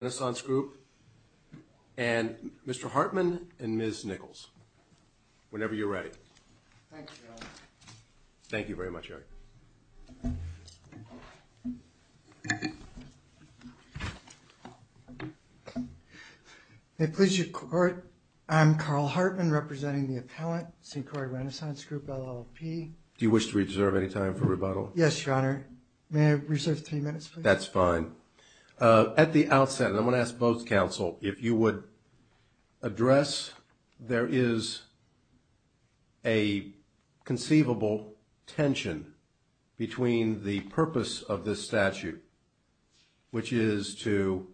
Renaissance Group and Mr. Hartman and Ms. Nichols, whenever you're ready. Thank you very much Eric. May it please your court, I'm Carl Hartman representing the Appellant, St. Croix Renaissance Group, LLP. Do you wish to reserve any time for rebuttal? Yes, your honor. May I reserve three minutes, please? That's fine. At the outset, and I'm going to ask both counsel, if you would address, there is a conceivable tension between the purpose of this statute, which is to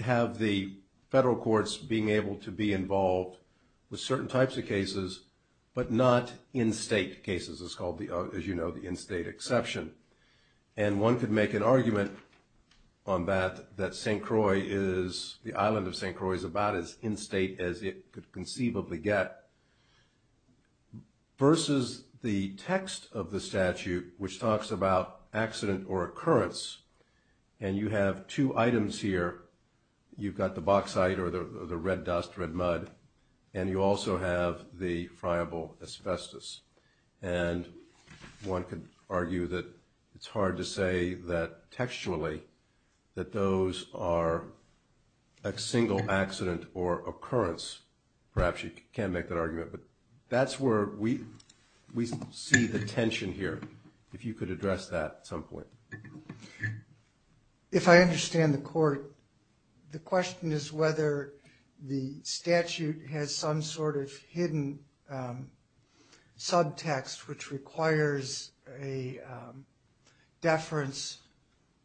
have the federal courts being able to be involved with certain types of cases, but not in-state cases. It's called the, as you know, the in-state exception. And one could make an argument on that, that St. Croix is, the island of St. Croix is about as in-state as it could conceivably get, versus the text of the statute, which talks about accident or occurrence, and you have two items here. You've got the bauxite, or the red dust, red mud, and you also have the friable asbestos. And one could argue that it's hard to say that textually, that those are a single accident or occurrence. Perhaps you can make that argument, but that's where we, we see the tension here, if you could address that at some point. If I understand the court, the question is whether the statute has some sort of hidden, subtext, which requires a deference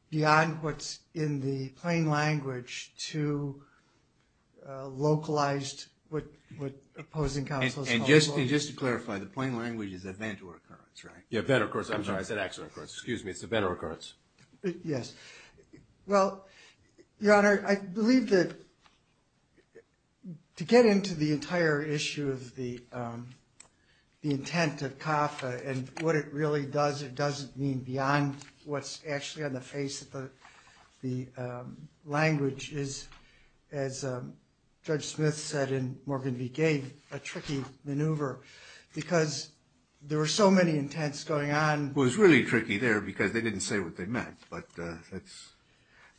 beyond what's in the plain language to localized, what, what opposing counsels call local. And just, and just to clarify, the plain language is event or occurrence, right? Yeah, event or occurrence, I'm sorry, I said accident or occurrence, excuse me, it's event or occurrence. Yes. Well, Your Honor, I believe that to get into the entire issue of the, the intent of CAFA, and what it really does, it doesn't mean beyond what's actually on the face of the, the language is, as Judge Smith said in Morgan v. Gave, a tricky maneuver, because there were so many intents going on. It was really tricky there, because they didn't say what they meant, but that's,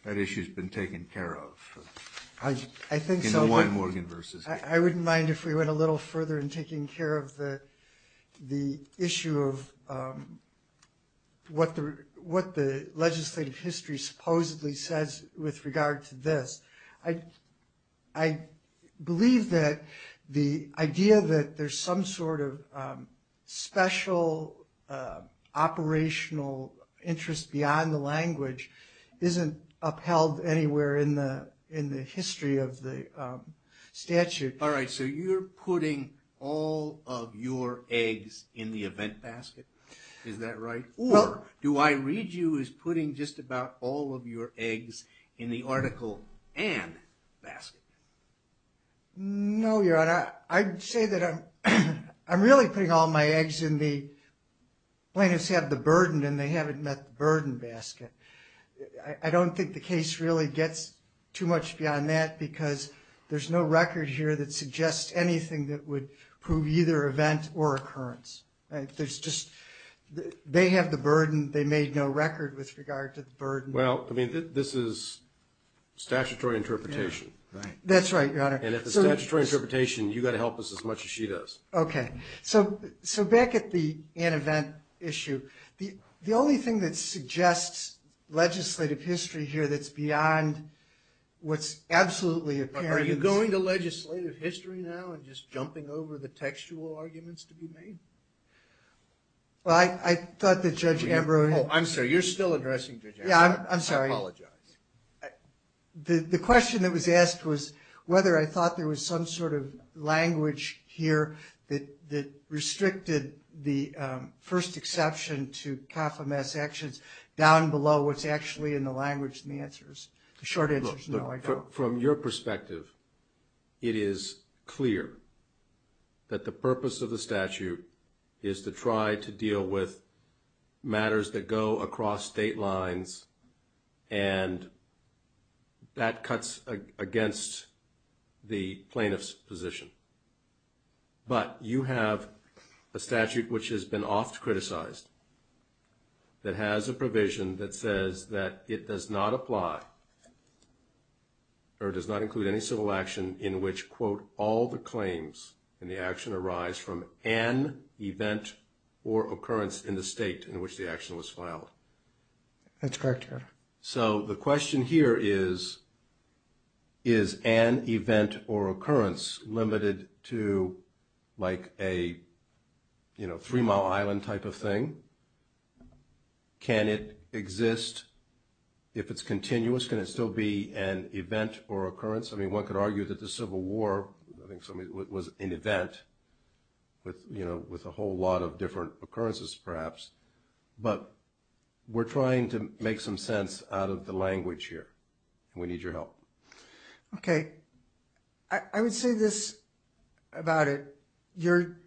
that issue's been taken care of. I, I think so. In the one Morgan v. Gave. I wouldn't mind if we went a little further in taking care of the, the issue of what the, what the legislative history supposedly says with regard to this. I, I believe that the idea that there's some sort of special operational interest beyond the language isn't upheld anywhere in the, in the history of the statute. All right, so you're putting all of your eggs in the event basket, is that right? Or, do I read you as putting just about all of your eggs in the article and basket? No, Your Honor, I'd say that I'm, I'm really putting all my eggs in the, plaintiffs have the burden and they haven't met the burden basket. I, I don't think the case really gets too much beyond that, because there's no record here that suggests anything that would prove either event or occurrence. There's just, they have the burden, they made no record with regard to the burden. Well, I mean, this is statutory interpretation. That's right, Your Honor. And if it's a statutory interpretation, you've got to help us as much as she does. Okay, so, so back at the, an event issue, the, the only thing that suggests legislative history here that's beyond what's absolutely apparent. Are you going to legislative history now and just jumping over the textual arguments to be made? Well, I, I thought that Judge Ambrose. I'm sorry, you're still addressing Judge Ambrose. Yeah, I'm sorry. I apologize. The, the question that was asked was whether I thought there was some sort of language here that, that restricted the first exception to CAFMS actions down below what's actually in the language in the answers. The short answer is no, I don't. From your perspective, it is clear that the purpose of the statute is to try to deal with matters that go across state lines and that cuts against the plaintiff's position. But you have a statute which has been oft criticized that has a provision that says that it does not apply or does not include any civil action in which, quote, all the claims in the action arise from an event or occurrence in the state in which the action was filed. That's correct, Your Honor. So the question here is, is an event or occurrence limited to like a, you know, Three Mile Island type of thing? Can it exist if it's continuous? Can it still be an event or occurrence? I mean, one could argue that the Civil War, I think so, I mean, was an event with, you know, with a whole lot of different occurrences perhaps. But we're trying to make some sense out of the language here. We need your help. Okay. I would say this about it. You're,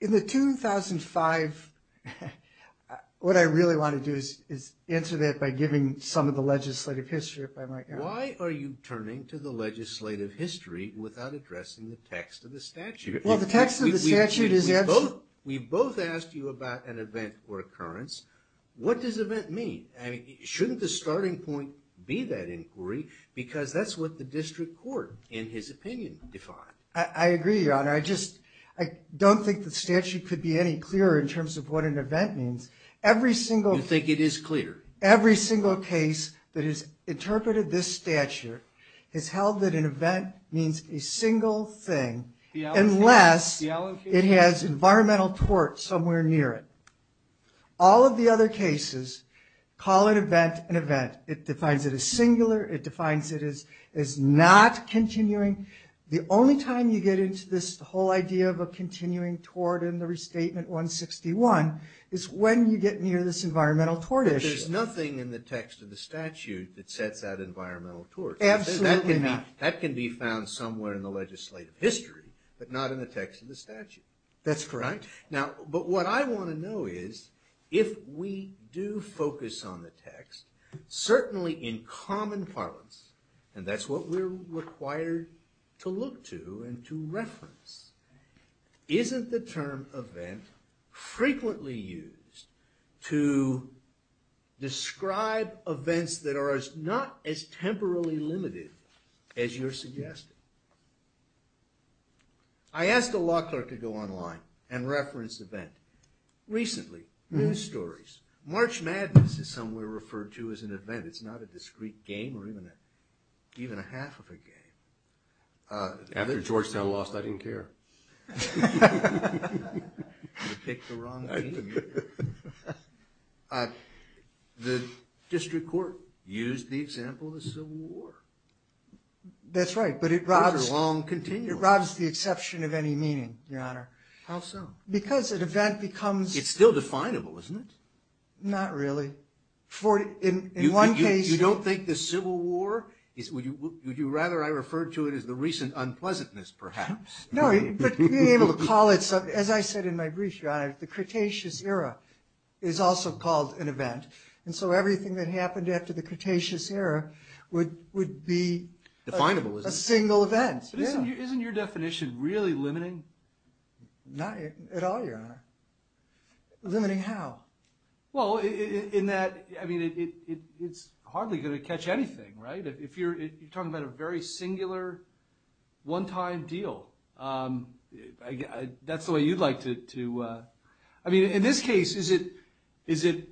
in the 2005, what I really want to do is answer that by giving some of the legislative history, if I might. Why are you turning to the legislative history without addressing the text of the statute? Well, the text of the statute is. We both asked you about an event or occurrence. What does event mean? I mean, shouldn't the starting point be that inquiry? Because that's what the district court, in his opinion, defined. I agree, Your Honor. I just, I don't think the statute could be any clearer in terms of what an event means. Every single. You think it is clear. Every single case that has interpreted this statute has held that an event means a single thing unless it has environmental tort somewhere near it. All of the other cases call an event an event. It defines it as singular. It defines it as not continuing. The only time you get into this whole idea of a continuing tort in the Restatement 161 is when you get near this environmental tort issue. But there's nothing in the text of the statute that sets out environmental tort. Absolutely not. That can be found somewhere in the legislative history. But not in the text of the statute. That's correct. Now, but what I want to know is, if we do focus on the text, certainly in common parlance, and that's what we're required to look to and to reference, isn't the term event frequently used to describe events that are not as temporally limited as you're suggesting? I asked a law clerk to go online and reference event. Recently, news stories. March Madness is somewhere referred to as an event. It's not a discrete game or even a half of a game. After Georgetown lost, I didn't care. You picked the wrong team. The district court used the example of the Civil War. That's right, but it robs the exception of any meaning, Your Honor. How so? Because an event becomes... It's still definable, isn't it? Not really. You don't think the Civil War, would you rather I refer to it as the recent unpleasantness, perhaps? No, but being able to call it something. As I said in my brief, Your Honor, the Cretaceous Era is also called an event. And so everything that happened after the Cretaceous Era would be a single event. Isn't your definition really limiting? Not at all, Your Honor. Limiting how? Well, in that, I mean, it's hardly going to catch anything, right? You're talking about a very singular, one-time deal. That's the way you'd like to... I mean, in this case, is it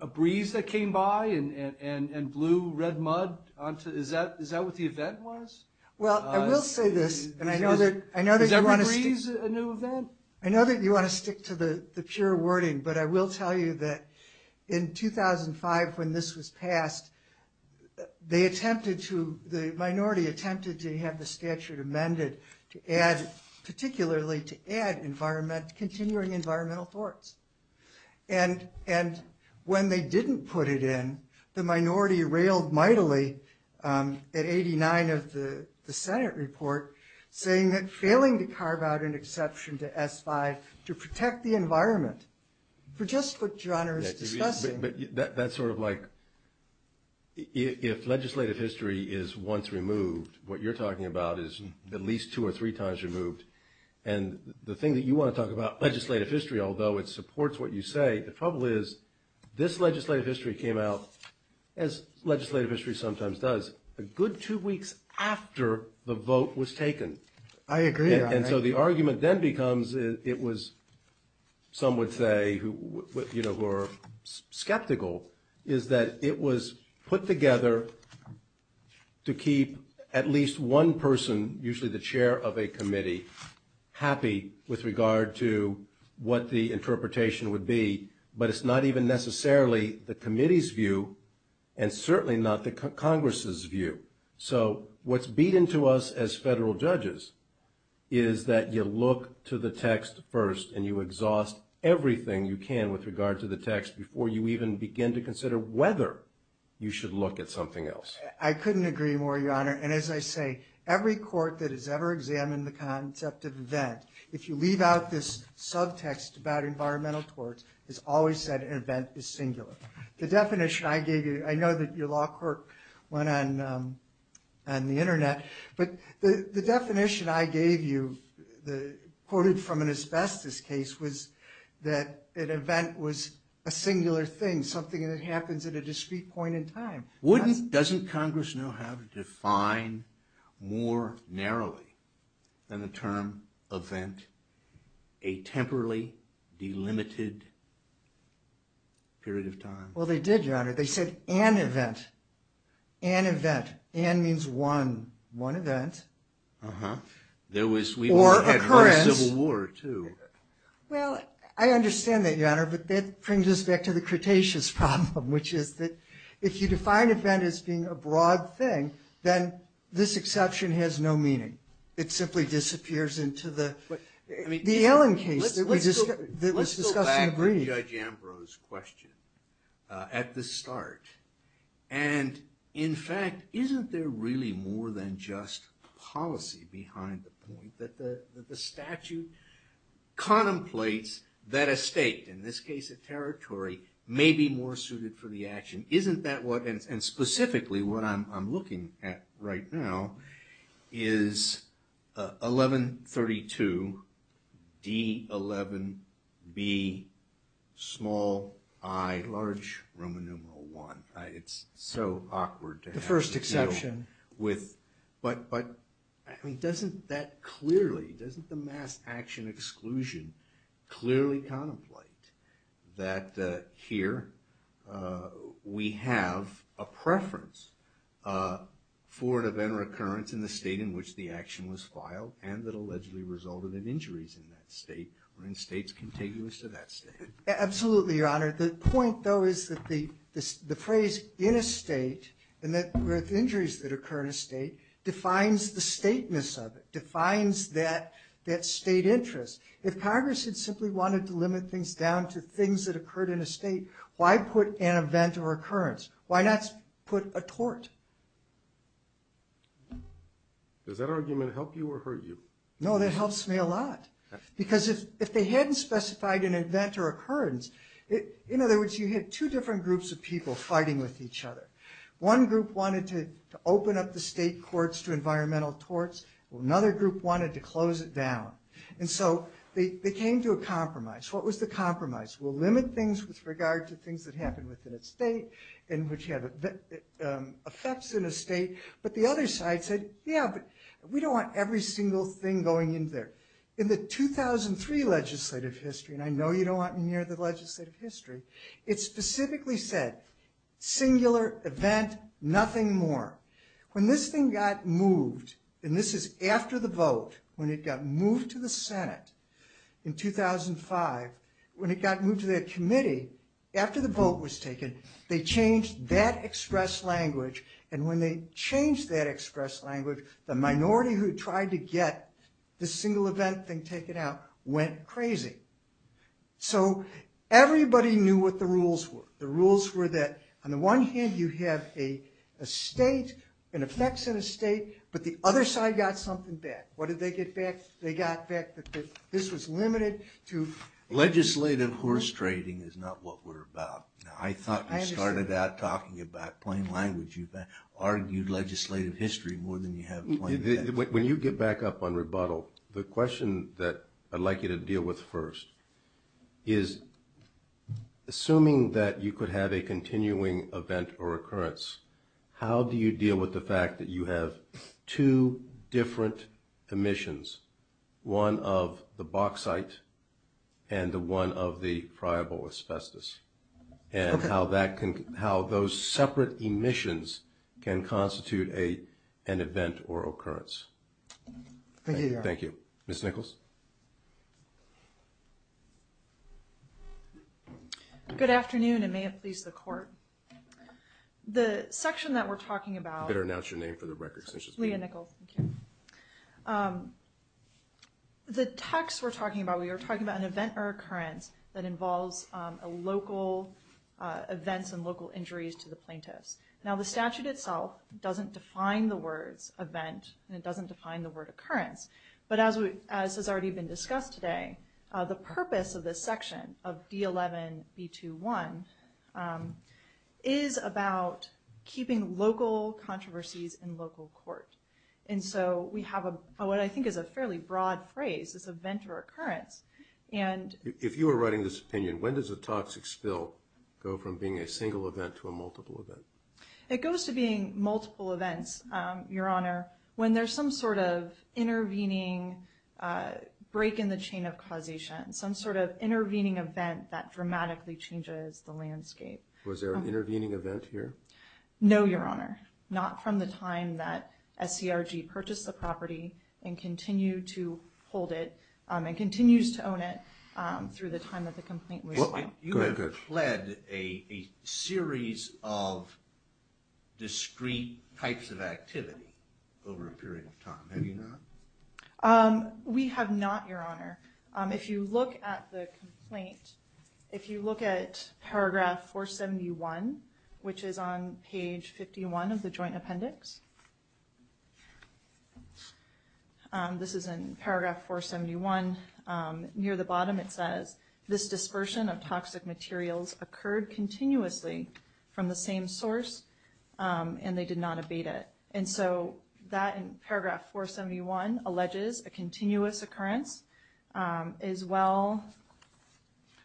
a breeze that came by and blew red mud? Is that what the event was? Well, I will say this, and I know that you want to stick... Is every breeze a new event? I know that you want to stick to the pure wording, but I will tell you that in 2005, when this was passed, they attempted to, the minority attempted to have the statute amended to add, particularly to add continuing environmental thwarts. And when they didn't put it in, the minority railed mightily at 89 of the Senate report, saying that failing to carve out an exception to S-5 to protect the environment, for just what Your Honor is discussing... But that's sort of like... If legislative history is once removed, what you're talking about is at least two or three times removed. And the thing that you want to talk about, legislative history, although it supports what you say, the trouble is this legislative history came out, as legislative history sometimes does, a good two weeks after the vote was taken. I agree, Your Honor. And so the argument then becomes, it was... Some would say, you know, who are skeptical, is that it was put together to keep at least one person, usually the chair of a committee, happy with regard to what the interpretation would be, but it's not even necessarily the committee's view and certainly not the Congress's view. So what's beaten to us as federal judges is that you look to the text first and you exhaust everything you can with regard to the text before you even begin to consider whether you should look at something else. I couldn't agree more, Your Honor. And as I say, every court that has ever examined the concept of event, if you leave out this subtext about environmental torts, has always said an event is singular. The definition I gave you... I know that your law court went on the Internet, but the definition I gave you, quoted from an asbestos case, was that an event was a singular thing, something that happens at a discrete point in time. Doesn't Congress know how to define more narrowly than the term event a temporally delimited period of time? Well, they did, Your Honor. They said an event. An event. An means one. One event. Or occurrence. Yes, we had a civil war, too. Well, I understand that, Your Honor, but that brings us back to the Cretaceous problem, which is that if you define event as being a broad thing, then this exception has no meaning. It simply disappears into the Ellen case that was discussed and agreed. Let's go back to Judge Ambrose's question at the start. And, in fact, isn't there really more than just policy behind the point that the statute contemplates that a state, in this case a territory, may be more suited for the action? Isn't that what, and specifically what I'm looking at right now, is 1132D11BiR1. It's so awkward to have to deal with. The first exception. But doesn't that clearly, doesn't the mass action exclusion clearly contemplate that here we have a preference for an event or occurrence in the state in which the action was filed and that allegedly resulted in injuries in that state or in states contiguous to that state? Absolutely, Your Honor. The point, though, is that the phrase in a state and the injuries that occur in a state defines the stateness of it, defines that state interest. If Congress had simply wanted to limit things down to things that occurred in a state, why put an event or occurrence? Why not put a tort? Does that argument help you or hurt you? No, that helps me a lot. Because if they hadn't specified an event or occurrence, in other words, you had two different groups of people fighting with each other. One group wanted to open up the state courts to environmental torts. Another group wanted to close it down. And so they came to a compromise. What was the compromise? Well, limit things with regard to things that happened within a state and which had effects in a state. But the other side said, yeah, but we don't want every single thing going in there. In the 2003 legislative history, and I know you don't want me near the legislative history, it specifically said, singular event, nothing more. When this thing got moved, and this is after the vote, when it got moved to the Senate in 2005, when it got moved to the committee, after the vote was taken, they changed that express language. And when they changed that express language, the minority who tried to get the single event thing taken out went crazy. So everybody knew what the rules were. The rules were that, on the one hand, you have a state, an effects in a state, but the other side got something back. What did they get back? They got back that this was limited to... Legislative horse trading is not what we're about. I thought we started out talking about plain language. You've argued legislative history more than you have plain facts. When you get back up on rebuttal, the question that I'd like you to deal with first is, assuming that you could have a continuing event or occurrence, how do you deal with the fact that you have two different emissions, one of the bauxite and the one of the friable asbestos, and how those separate emissions can constitute an event or occurrence? Thank you, Your Honor. Thank you. Ms. Nichols? Good afternoon, and may it please the Court. The section that we're talking about... You better announce your name for the record. Leah Nichols, thank you. The text we're talking about, we are talking about an event or occurrence that involves local events and local injuries to the plaintiffs. Now, the statute itself doesn't define the words event, and it doesn't define the word occurrence, but as has already been discussed today, the purpose of this section of D11-B21 is about keeping local controversies in local court. And so we have what I think is a fairly broad phrase, this event or occurrence, and... If you were writing this opinion, when does a toxic spill go from being a single event to a multiple event? It goes to being multiple events, Your Honor, when there's some sort of intervening break in the chain of causation, some sort of intervening event that dramatically changes the landscape. Was there an intervening event here? No, Your Honor. Not from the time that SCRG purchased the property and continued to hold it and continues to own it through the time that the complaint was filed. You have pled a series of discrete types of activity over a period of time. Have you not? We have not, Your Honor. If you look at the complaint, if you look at paragraph 471, which is on page 51 of the joint appendix... This is in paragraph 471. Near the bottom it says, this dispersion of toxic materials occurred continuously from the same source and they did not abate it. And so that in paragraph 471 alleges a continuous occurrence as well...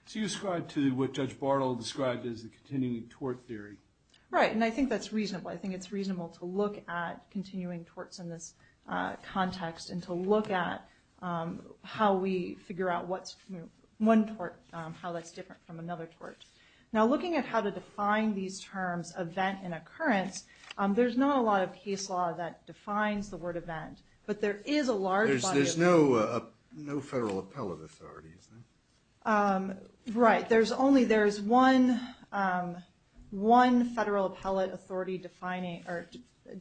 So you ascribe to what Judge Bartle described as the continuing tort theory. Right, and I think that's reasonable. I think it's reasonable to look at continuing torts in this context and to look at how we figure out how that's different from another tort. Now looking at how to define these terms, event and occurrence, there's not a lot of case law that defines the word event, but there is a large body of... There's no federal appellate authority, is there? Right, there's only one federal appellate authority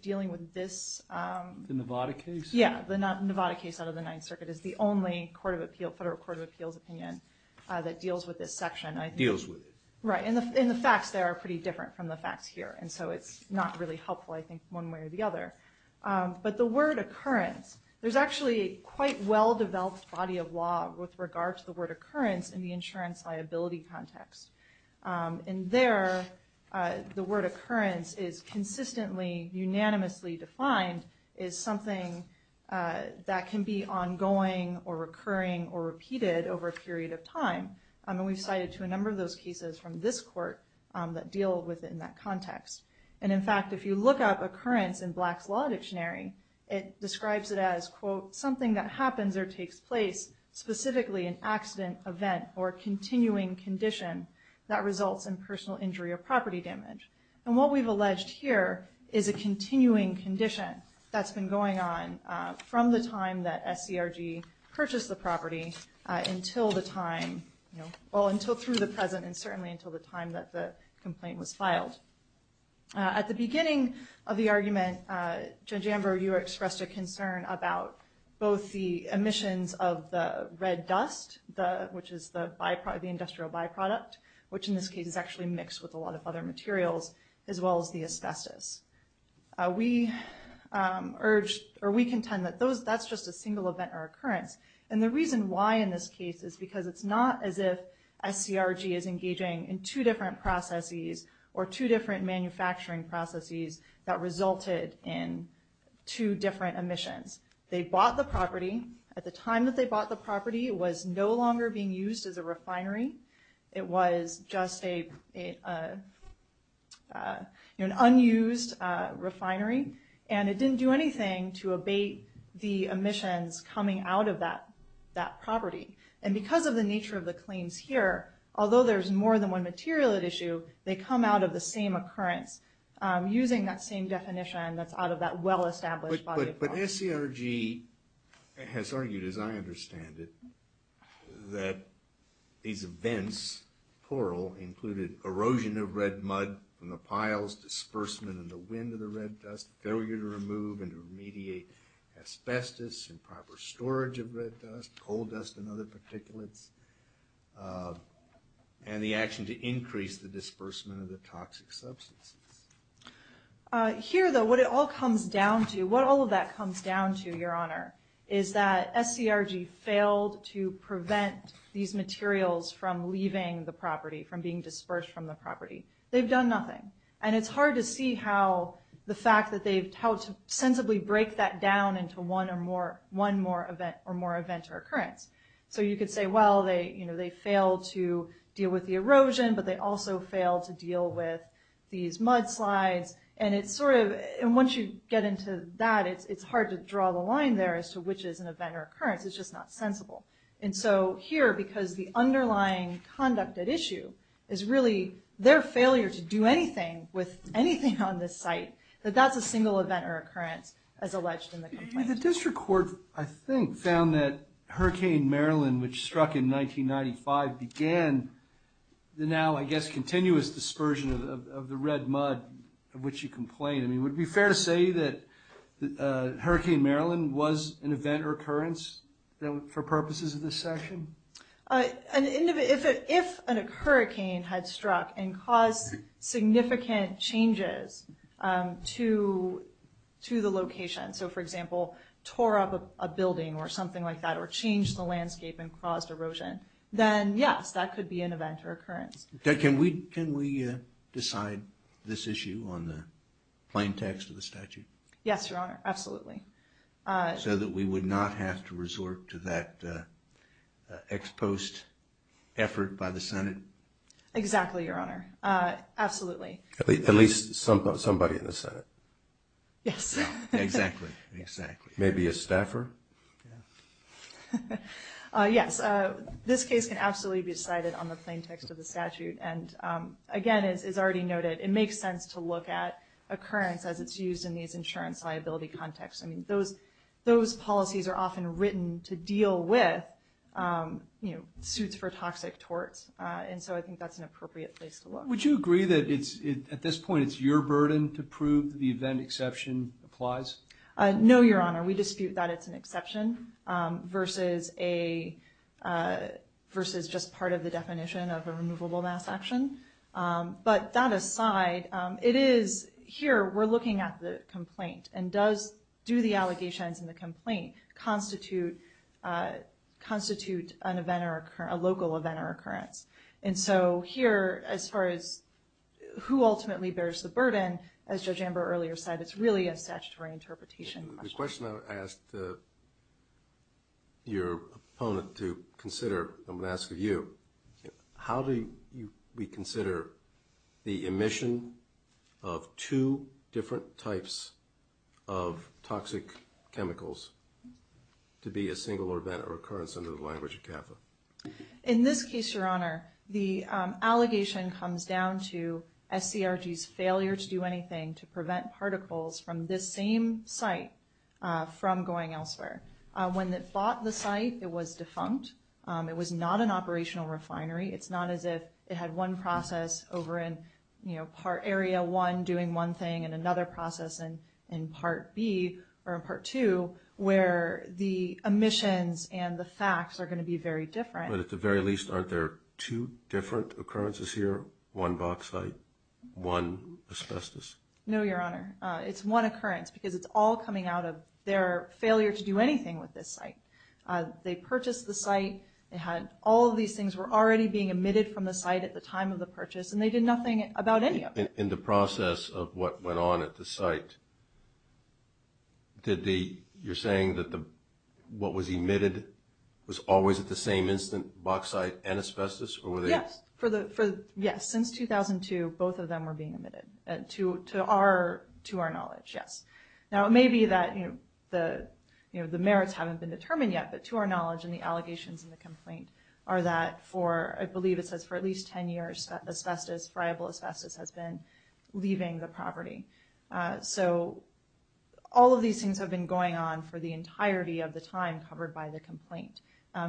dealing with this... The Nevada case? Yeah, the Nevada case out of the Ninth Circuit is the only federal court of appeals opinion that deals with this section. Deals with it. Right, and the facts there are pretty different from the facts here, and so it's not really helpful, I think, one way or the other. But the word occurrence, there's actually a quite well-developed body of law with regard to the word occurrence in the insurance liability context. And there, the word occurrence is consistently, unanimously defined as something that can be ongoing or recurring or repeated over a period of time. And we've cited to a number of those cases from this court that deal with it in that context. And in fact, if you look up occurrence in Black's Law Dictionary, it describes it as, quote, something that happens or takes place specifically an accident, event, or continuing condition that results in personal injury or property damage. And what we've alleged here is a continuing condition that's been going on from the time that SCRG purchased the property until the time... Well, until through the present, and certainly until the time that the complaint was filed. At the beginning of the argument, Judge Amber, you expressed a concern about both the emissions of the red dust, which is the industrial byproduct, which in this case is actually mixed with a lot of other materials, as well as the asbestos. We contend that that's just a single event or occurrence. And the reason why in this case is because it's not as if SCRG is engaging in two different processes or two different manufacturing processes that resulted in two different emissions. They bought the property. At the time that they bought the property, it was no longer being used as a refinery. It was just an unused refinery. And it didn't do anything to abate the emissions coming out of that property. And because of the nature of the claims here, although there's more than one material at issue, they come out of the same occurrence using that same definition that's out of that well-established body of law. But SCRG has argued, as I understand it, that these events, plural, included erosion of red mud from the piles, disbursement in the wind of the red dust, failure to remove and to remediate asbestos and proper storage of red dust, coal dust and other particulates, and the action to increase the disbursement of the toxic substances. Here, though, what it all comes down to, what all of that comes down to, Your Honor, is that SCRG failed to prevent these materials from leaving the property, from being dispersed from the property. They've done nothing. And it's hard to see how the fact that they've sensibly break that down into one more event or occurrence. So you could say, well, they failed to deal with the erosion, but they also failed to deal with these mudslides. And once you get into that, it's hard to draw the line there as to which is an event or occurrence. It's just not sensible. And so here, because the underlying conduct at issue is really their failure to do anything with anything on this site, that that's a single event or occurrence as alleged in the complaint. The district court, I think, found that Hurricane Marilyn, which struck in 1995, began the now, I guess, continuous dispersion of the red mud, of which you complain. I mean, would it be fair to say that Hurricane Marilyn was an event or occurrence for purposes of this section? If a hurricane had struck and caused significant changes to the location, so, for example, tore up a building or something like that, or changed the landscape and caused erosion, then, yes, that could be an event or occurrence. Can we decide this issue on the plain text of the statute? Yes, Your Honor, absolutely. So that we would not have to resort to that ex post effort by the Senate? Exactly, Your Honor. Absolutely. At least somebody in the Senate. Yes. Exactly, exactly. Maybe a staffer? Yes. This case can absolutely be decided on the plain text of the statute, and, again, as is already noted, it makes sense to look at occurrence as it's used in these insurance liability contexts. I mean, those policies are often written to deal with suits for toxic torts, and so I think that's an appropriate place to look. Would you agree that, at this point, it's your burden to prove that the event exception applies? No, Your Honor. We dispute that it's an exception versus just part of the definition of a removable mass action, but that aside, it is... Here, we're looking at the complaint and do the allegations in the complaint constitute a local event or occurrence? And so here, as far as who ultimately bears the burden, as Judge Amber earlier said, it's really a statutory interpretation question. The question I would ask your opponent to consider, I'm going to ask of you, how do we consider the emission of two different types of toxic chemicals to be a single event or occurrence under the language of CAFA? In this case, Your Honor, the allegation comes down to SCRG's failure to do anything to prevent particles from this same site from going elsewhere. When it bought the site, it was defunct. It was not an operational refinery. It's not as if it had one process over in, you know, Part Area 1 doing one thing and another process in Part B or in Part 2 where the emissions and the facts are going to be very different. But at the very least, aren't there two different occurrences here? One bauxite, one asbestos? No, Your Honor. It's one occurrence because it's all coming out of their failure to do anything with this site. They purchased the site. All of these things were already being emitted from the site at the time of the purchase and they did nothing about any of it. In the process of what went on at the site, you're saying that what was emitted was always at the same instant, bauxite and asbestos? Yes. Since 2002, both of them were being emitted. To our knowledge, yes. Now, it may be that, you know, the merits haven't been determined yet, but to our knowledge and the allegations in the complaint are that for, I believe it says, for at least 10 years, asbestos, friable asbestos, has been leaving the property. So all of these things have been going on for the entirety of the time covered by the complaint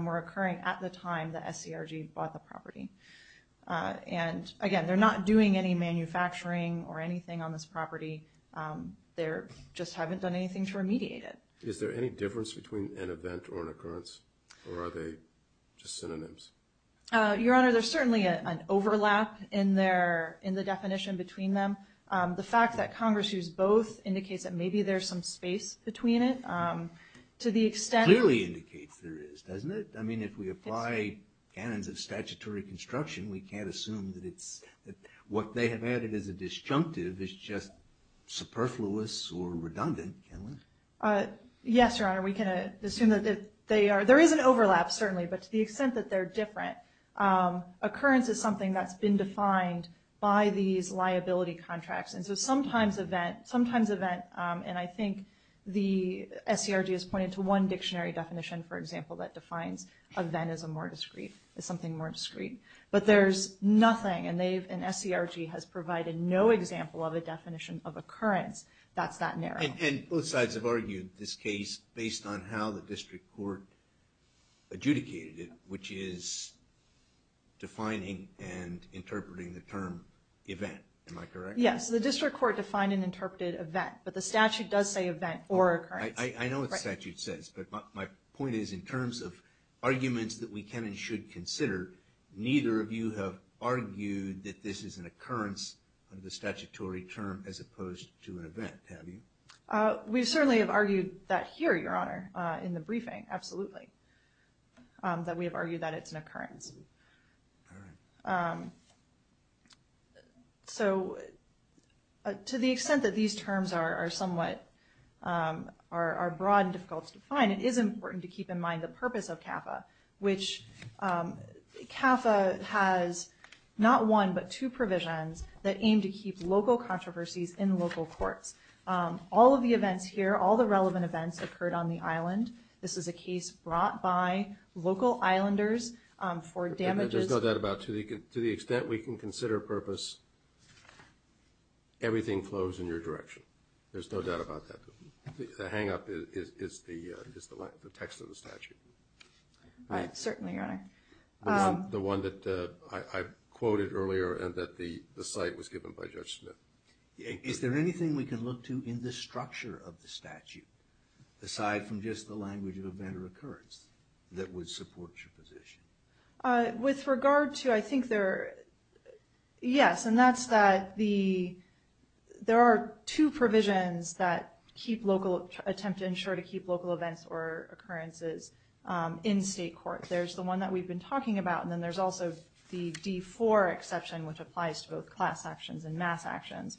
were occurring at the time the SCRG bought the property. And again, they're not doing any manufacturing or anything on this property. They just haven't done anything to remediate it. Is there any difference between an event or an occurrence? Or are they just synonyms? Your Honor, there's certainly an overlap in the definition between them. The fact that Congress used both indicates that maybe there's some space between it. To the extent... Clearly indicates there is, doesn't it? I mean, if we apply canons of statutory construction, we can't assume that it's... What they have added as a disjunctive is just superfluous or redundant, can we? Yes, Your Honor. We can assume that they are... There is an overlap, certainly, but to the extent that they're different, occurrence is something that's been defined by these liability contracts. And so sometimes event, sometimes event, and I think the SCRG has pointed to one dictionary definition, for example, that defines event as a more discreet, as something more discreet. But there's nothing, and SCRG has provided no example of a definition of occurrence that's that narrow. And both sides have argued this case based on how the district court adjudicated it, which is defining and interpreting the term event, am I correct? Yes, the district court defined and interpreted event, but the statute does say event or occurrence. I know what the statute says, but my point is in terms of arguments that we can and should consider, neither of you have argued that this is an occurrence of the statutory term as opposed to an event, have you? We certainly have argued that here, Your Honor, in the briefing, absolutely, that we have argued that it's an occurrence. All right. So to the extent that these terms are somewhat, are broad and difficult to define, it is important to keep in mind the purpose of CAFA, which CAFA has not one but two provisions that aim to keep local controversies in local courts. All of the events here, all the relevant events occurred on the island. This is a case brought by local islanders for damages. I just know that about, to the extent we can consider purpose, everything flows in your direction. There's no doubt about that. The hangup is the text of the statute. Certainly, Your Honor. The one that I quoted earlier and that the site was given by Judge Smith. Is there anything we can look to in the structure of the statute, aside from just the language of event or occurrence, that would support your position? With regard to, I think there, yes, and that's that the, there are two provisions that attempt to ensure to keep local events or occurrences in state court. There's the one that we've been talking about, and then there's also the D4 exception, which applies to both class actions and mass actions,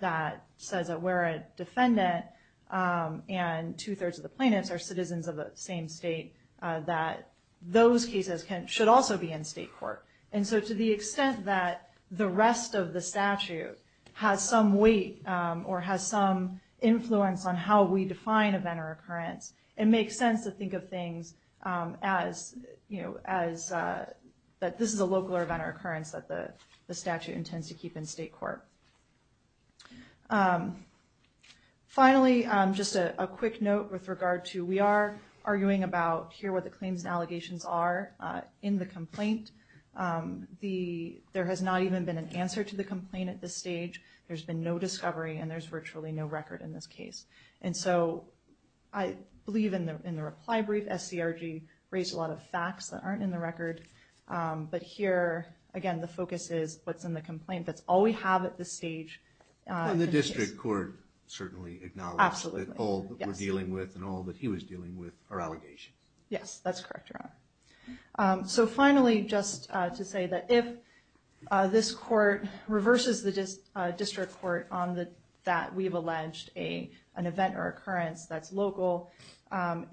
that says that where a defendant and two-thirds of the plaintiffs are citizens of the same state, that those cases should also be in state court. And so to the extent that the rest of the statute has some weight or has some influence on how we define event or occurrence, it makes sense to think of things as, you know, as that this is a local event or occurrence that the statute intends to keep in state court. Finally, just a quick note with regard to, we are arguing about here what the claims and allegations are in the complaint. There has not even been an answer to the complaint at this stage. There's been no discovery, and there's virtually no record in this case. And so I believe in the reply brief, SCRG raised a lot of facts that aren't in the record. But here, again, the focus is what's in the complaint. That's all we have at this stage. And the district court certainly acknowledged that all that we're dealing with and all that he was dealing with are allegations. Yes, that's correct, Your Honor. So finally, just to say that if this court reverses the district court on that we've alleged an event or occurrence that's local,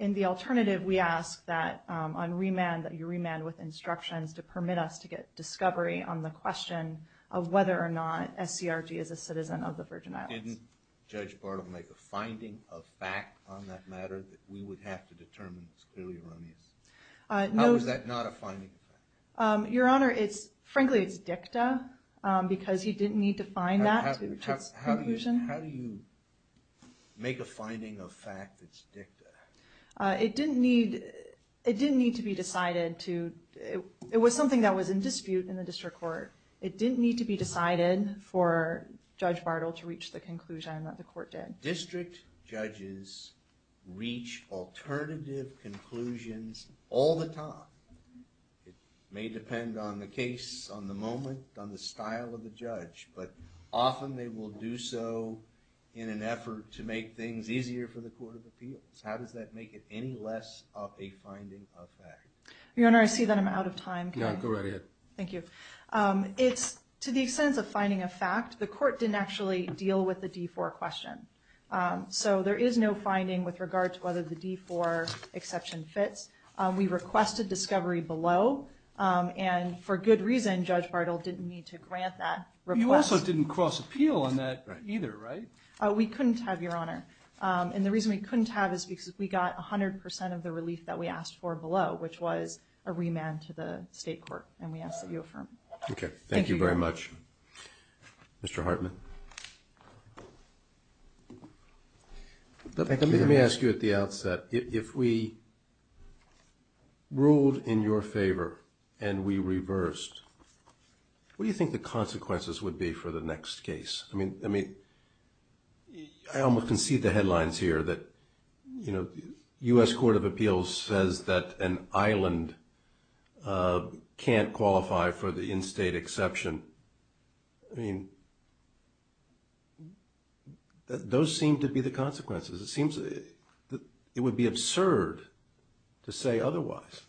in the alternative, we ask that on remand, that you remand with instructions to permit us to get discovery on the question of whether or not SCRG is a citizen of the Virgin Islands. Didn't Judge Bartle make a finding of fact on that matter that we would have to determine is clearly erroneous? How is that not a finding of fact? Your Honor, frankly, it's dicta because he didn't need to find that to reach his conclusion. How do you make a finding of fact that's dicta? It didn't need to be decided to... It was something that was in dispute in the district court. It didn't need to be decided for Judge Bartle to reach the conclusion that the court did. District judges reach alternative conclusions all the time. It may depend on the case, on the moment, on the style of the judge, but often they will do so in an effort to make things easier for the court of appeals. How does that make it any less of a finding of fact? Your Honor, I see that I'm out of time. No, go right ahead. Thank you. To the extent of finding of fact, the court didn't actually deal with the D4 question. So there is no finding with regard to whether the D4 exception fits. We requested discovery below, and for good reason Judge Bartle didn't need to grant that request. You also didn't cross appeal on that either, right? We couldn't have, Your Honor. And the reason we couldn't have is because we got 100% of the relief that we asked for below, which was a remand to the state court, and we ask that you affirm. Okay, thank you very much, Mr. Hartman. Let me ask you at the outset, if we ruled in your favor and we reversed, what do you think the consequences would be for the next case? I mean, I almost concede the headlines here that, you know, this court of appeals says that an island can't qualify for the in-state exception. I mean, those seem to be the consequences. It would be absurd to say otherwise.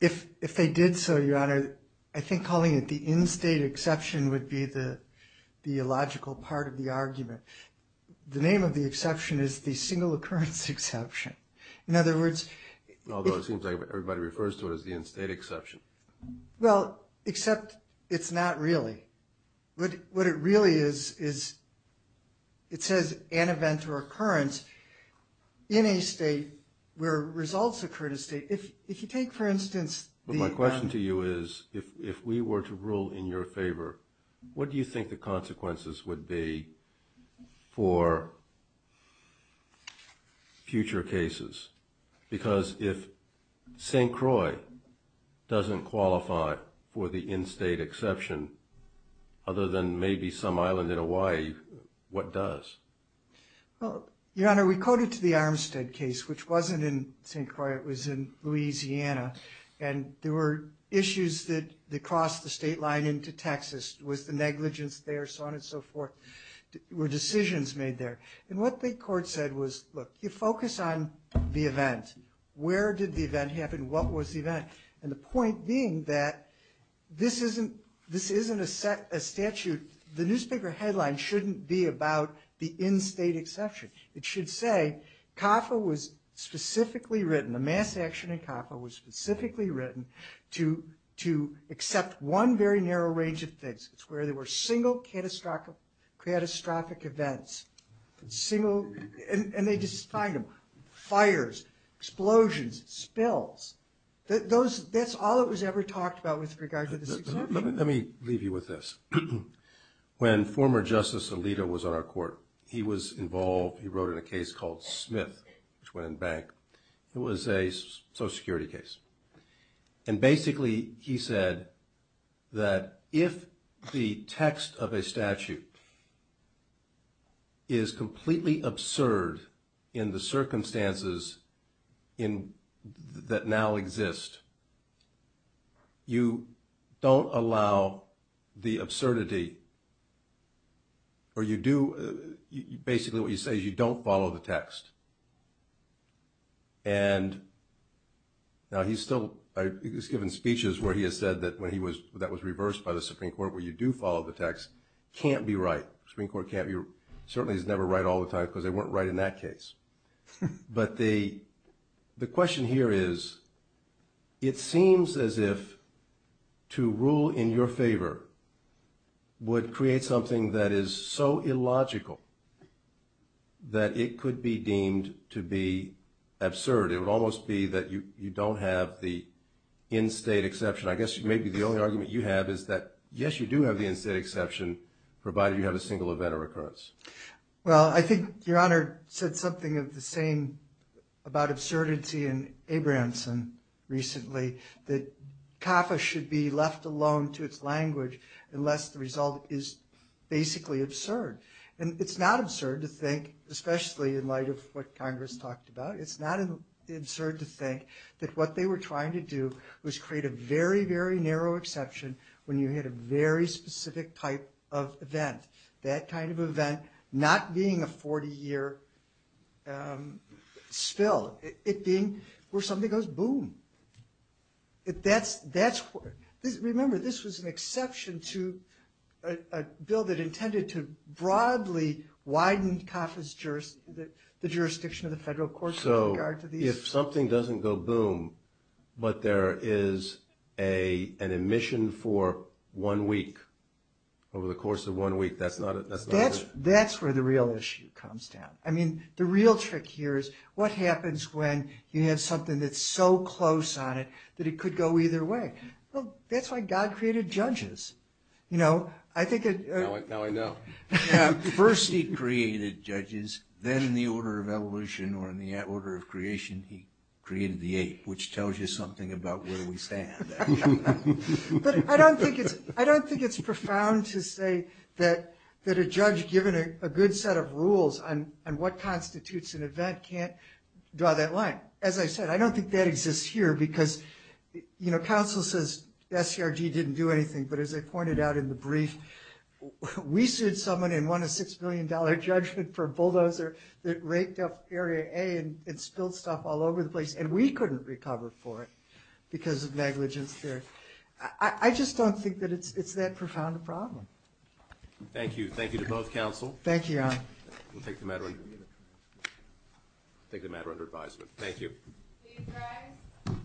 If they did so, Your Honor, I think calling it the in-state exception would be the illogical part of the argument. The name of the exception is the single occurrence exception. In other words... Although it seems like everybody refers to it as the in-state exception. Well, except it's not really. What it really is is it says an event or occurrence in a state where results occur in a state. If you take, for instance... My question to you is, if we were to rule in your favor, what do you think the consequences would be for future cases? Because if St. Croix doesn't qualify for the in-state exception, other than maybe some island in Hawaii, what does? Your Honor, we coded to the Armstead case, which wasn't in St. Croix. It was in Louisiana. And there were issues that crossed the state line into Texas. Was the negligence there, so on and so forth? Were decisions made there? And what the court said was, look, you focus on the event. Where did the event happen? What was the event? And the point being that this isn't a statute. The newspaper headline shouldn't be about the in-state exception. It should say CAFA was specifically written, the mass action in CAFA was specifically written, to accept one very narrow range of things. It's where there were single catastrophic events. And they just find them. Fires, explosions, spills. That's all that was ever talked about with regard to the exception. Let me leave you with this. When former Justice Alito was on our court, he was involved. He wrote in a case called Smith, which went in bank. It was a Social Security case. And basically he said that if the text of a statute is completely absurd in the circumstances that now exist, you don't allow the absurdity, or you do, basically what you say is you don't follow the text. And now he's still, he's given speeches where he has said that when he was, that was reversed by the Supreme Court, where you do follow the text, can't be right. Supreme Court can't be, certainly is never right all the time because they weren't right in that case. But the question here is, it seems as if to rule in your favor would create something that is so illogical that it could be deemed to be absurd. It would almost be that you don't have the in-state exception. I guess maybe the only argument you have is that, yes, you do have the in-state exception, provided you have a single event of recurrence. Well, I think Your Honor said something of the same about absurdity in Abramson recently, that CAFA should be left alone to its language unless the result is basically absurd. And it's not absurd to think, especially in light of what Congress talked about, it's not absurd to think that what they were trying to do was create a very, very narrow exception when you had a very specific type of event. That kind of event not being a 40-year spill, it being where something goes boom. Remember, this was an exception to a bill that intended to broadly widen the jurisdiction of the federal courts with regard to these. So if something doesn't go boom, but there is an admission for one week, over the course of one week, that's not a... That's where the real issue comes down. I mean, the real trick here is, what happens when you have something that's so close on it that it could go either way? Well, that's why God created judges. You know, I think... Now I know. First he created judges, then in the order of evolution or in the order of creation, he created the ape, which tells you something about where we stand. But I don't think it's profound to say that a judge given a good set of rules on what constitutes an event can't draw that line. As I said, I don't think that exists here because counsel says SCRG didn't do anything, but as I pointed out in the brief, we sued someone and won a $6 million judgment for a bulldozer that raked up Area A and spilled stuff all over the place, and we couldn't recover for it because of negligence there. I just don't think that it's that profound a problem. Thank you. Thank you to both counsel. Thank you, Your Honor. We'll take the matter under advisement. Thank you. Please rise.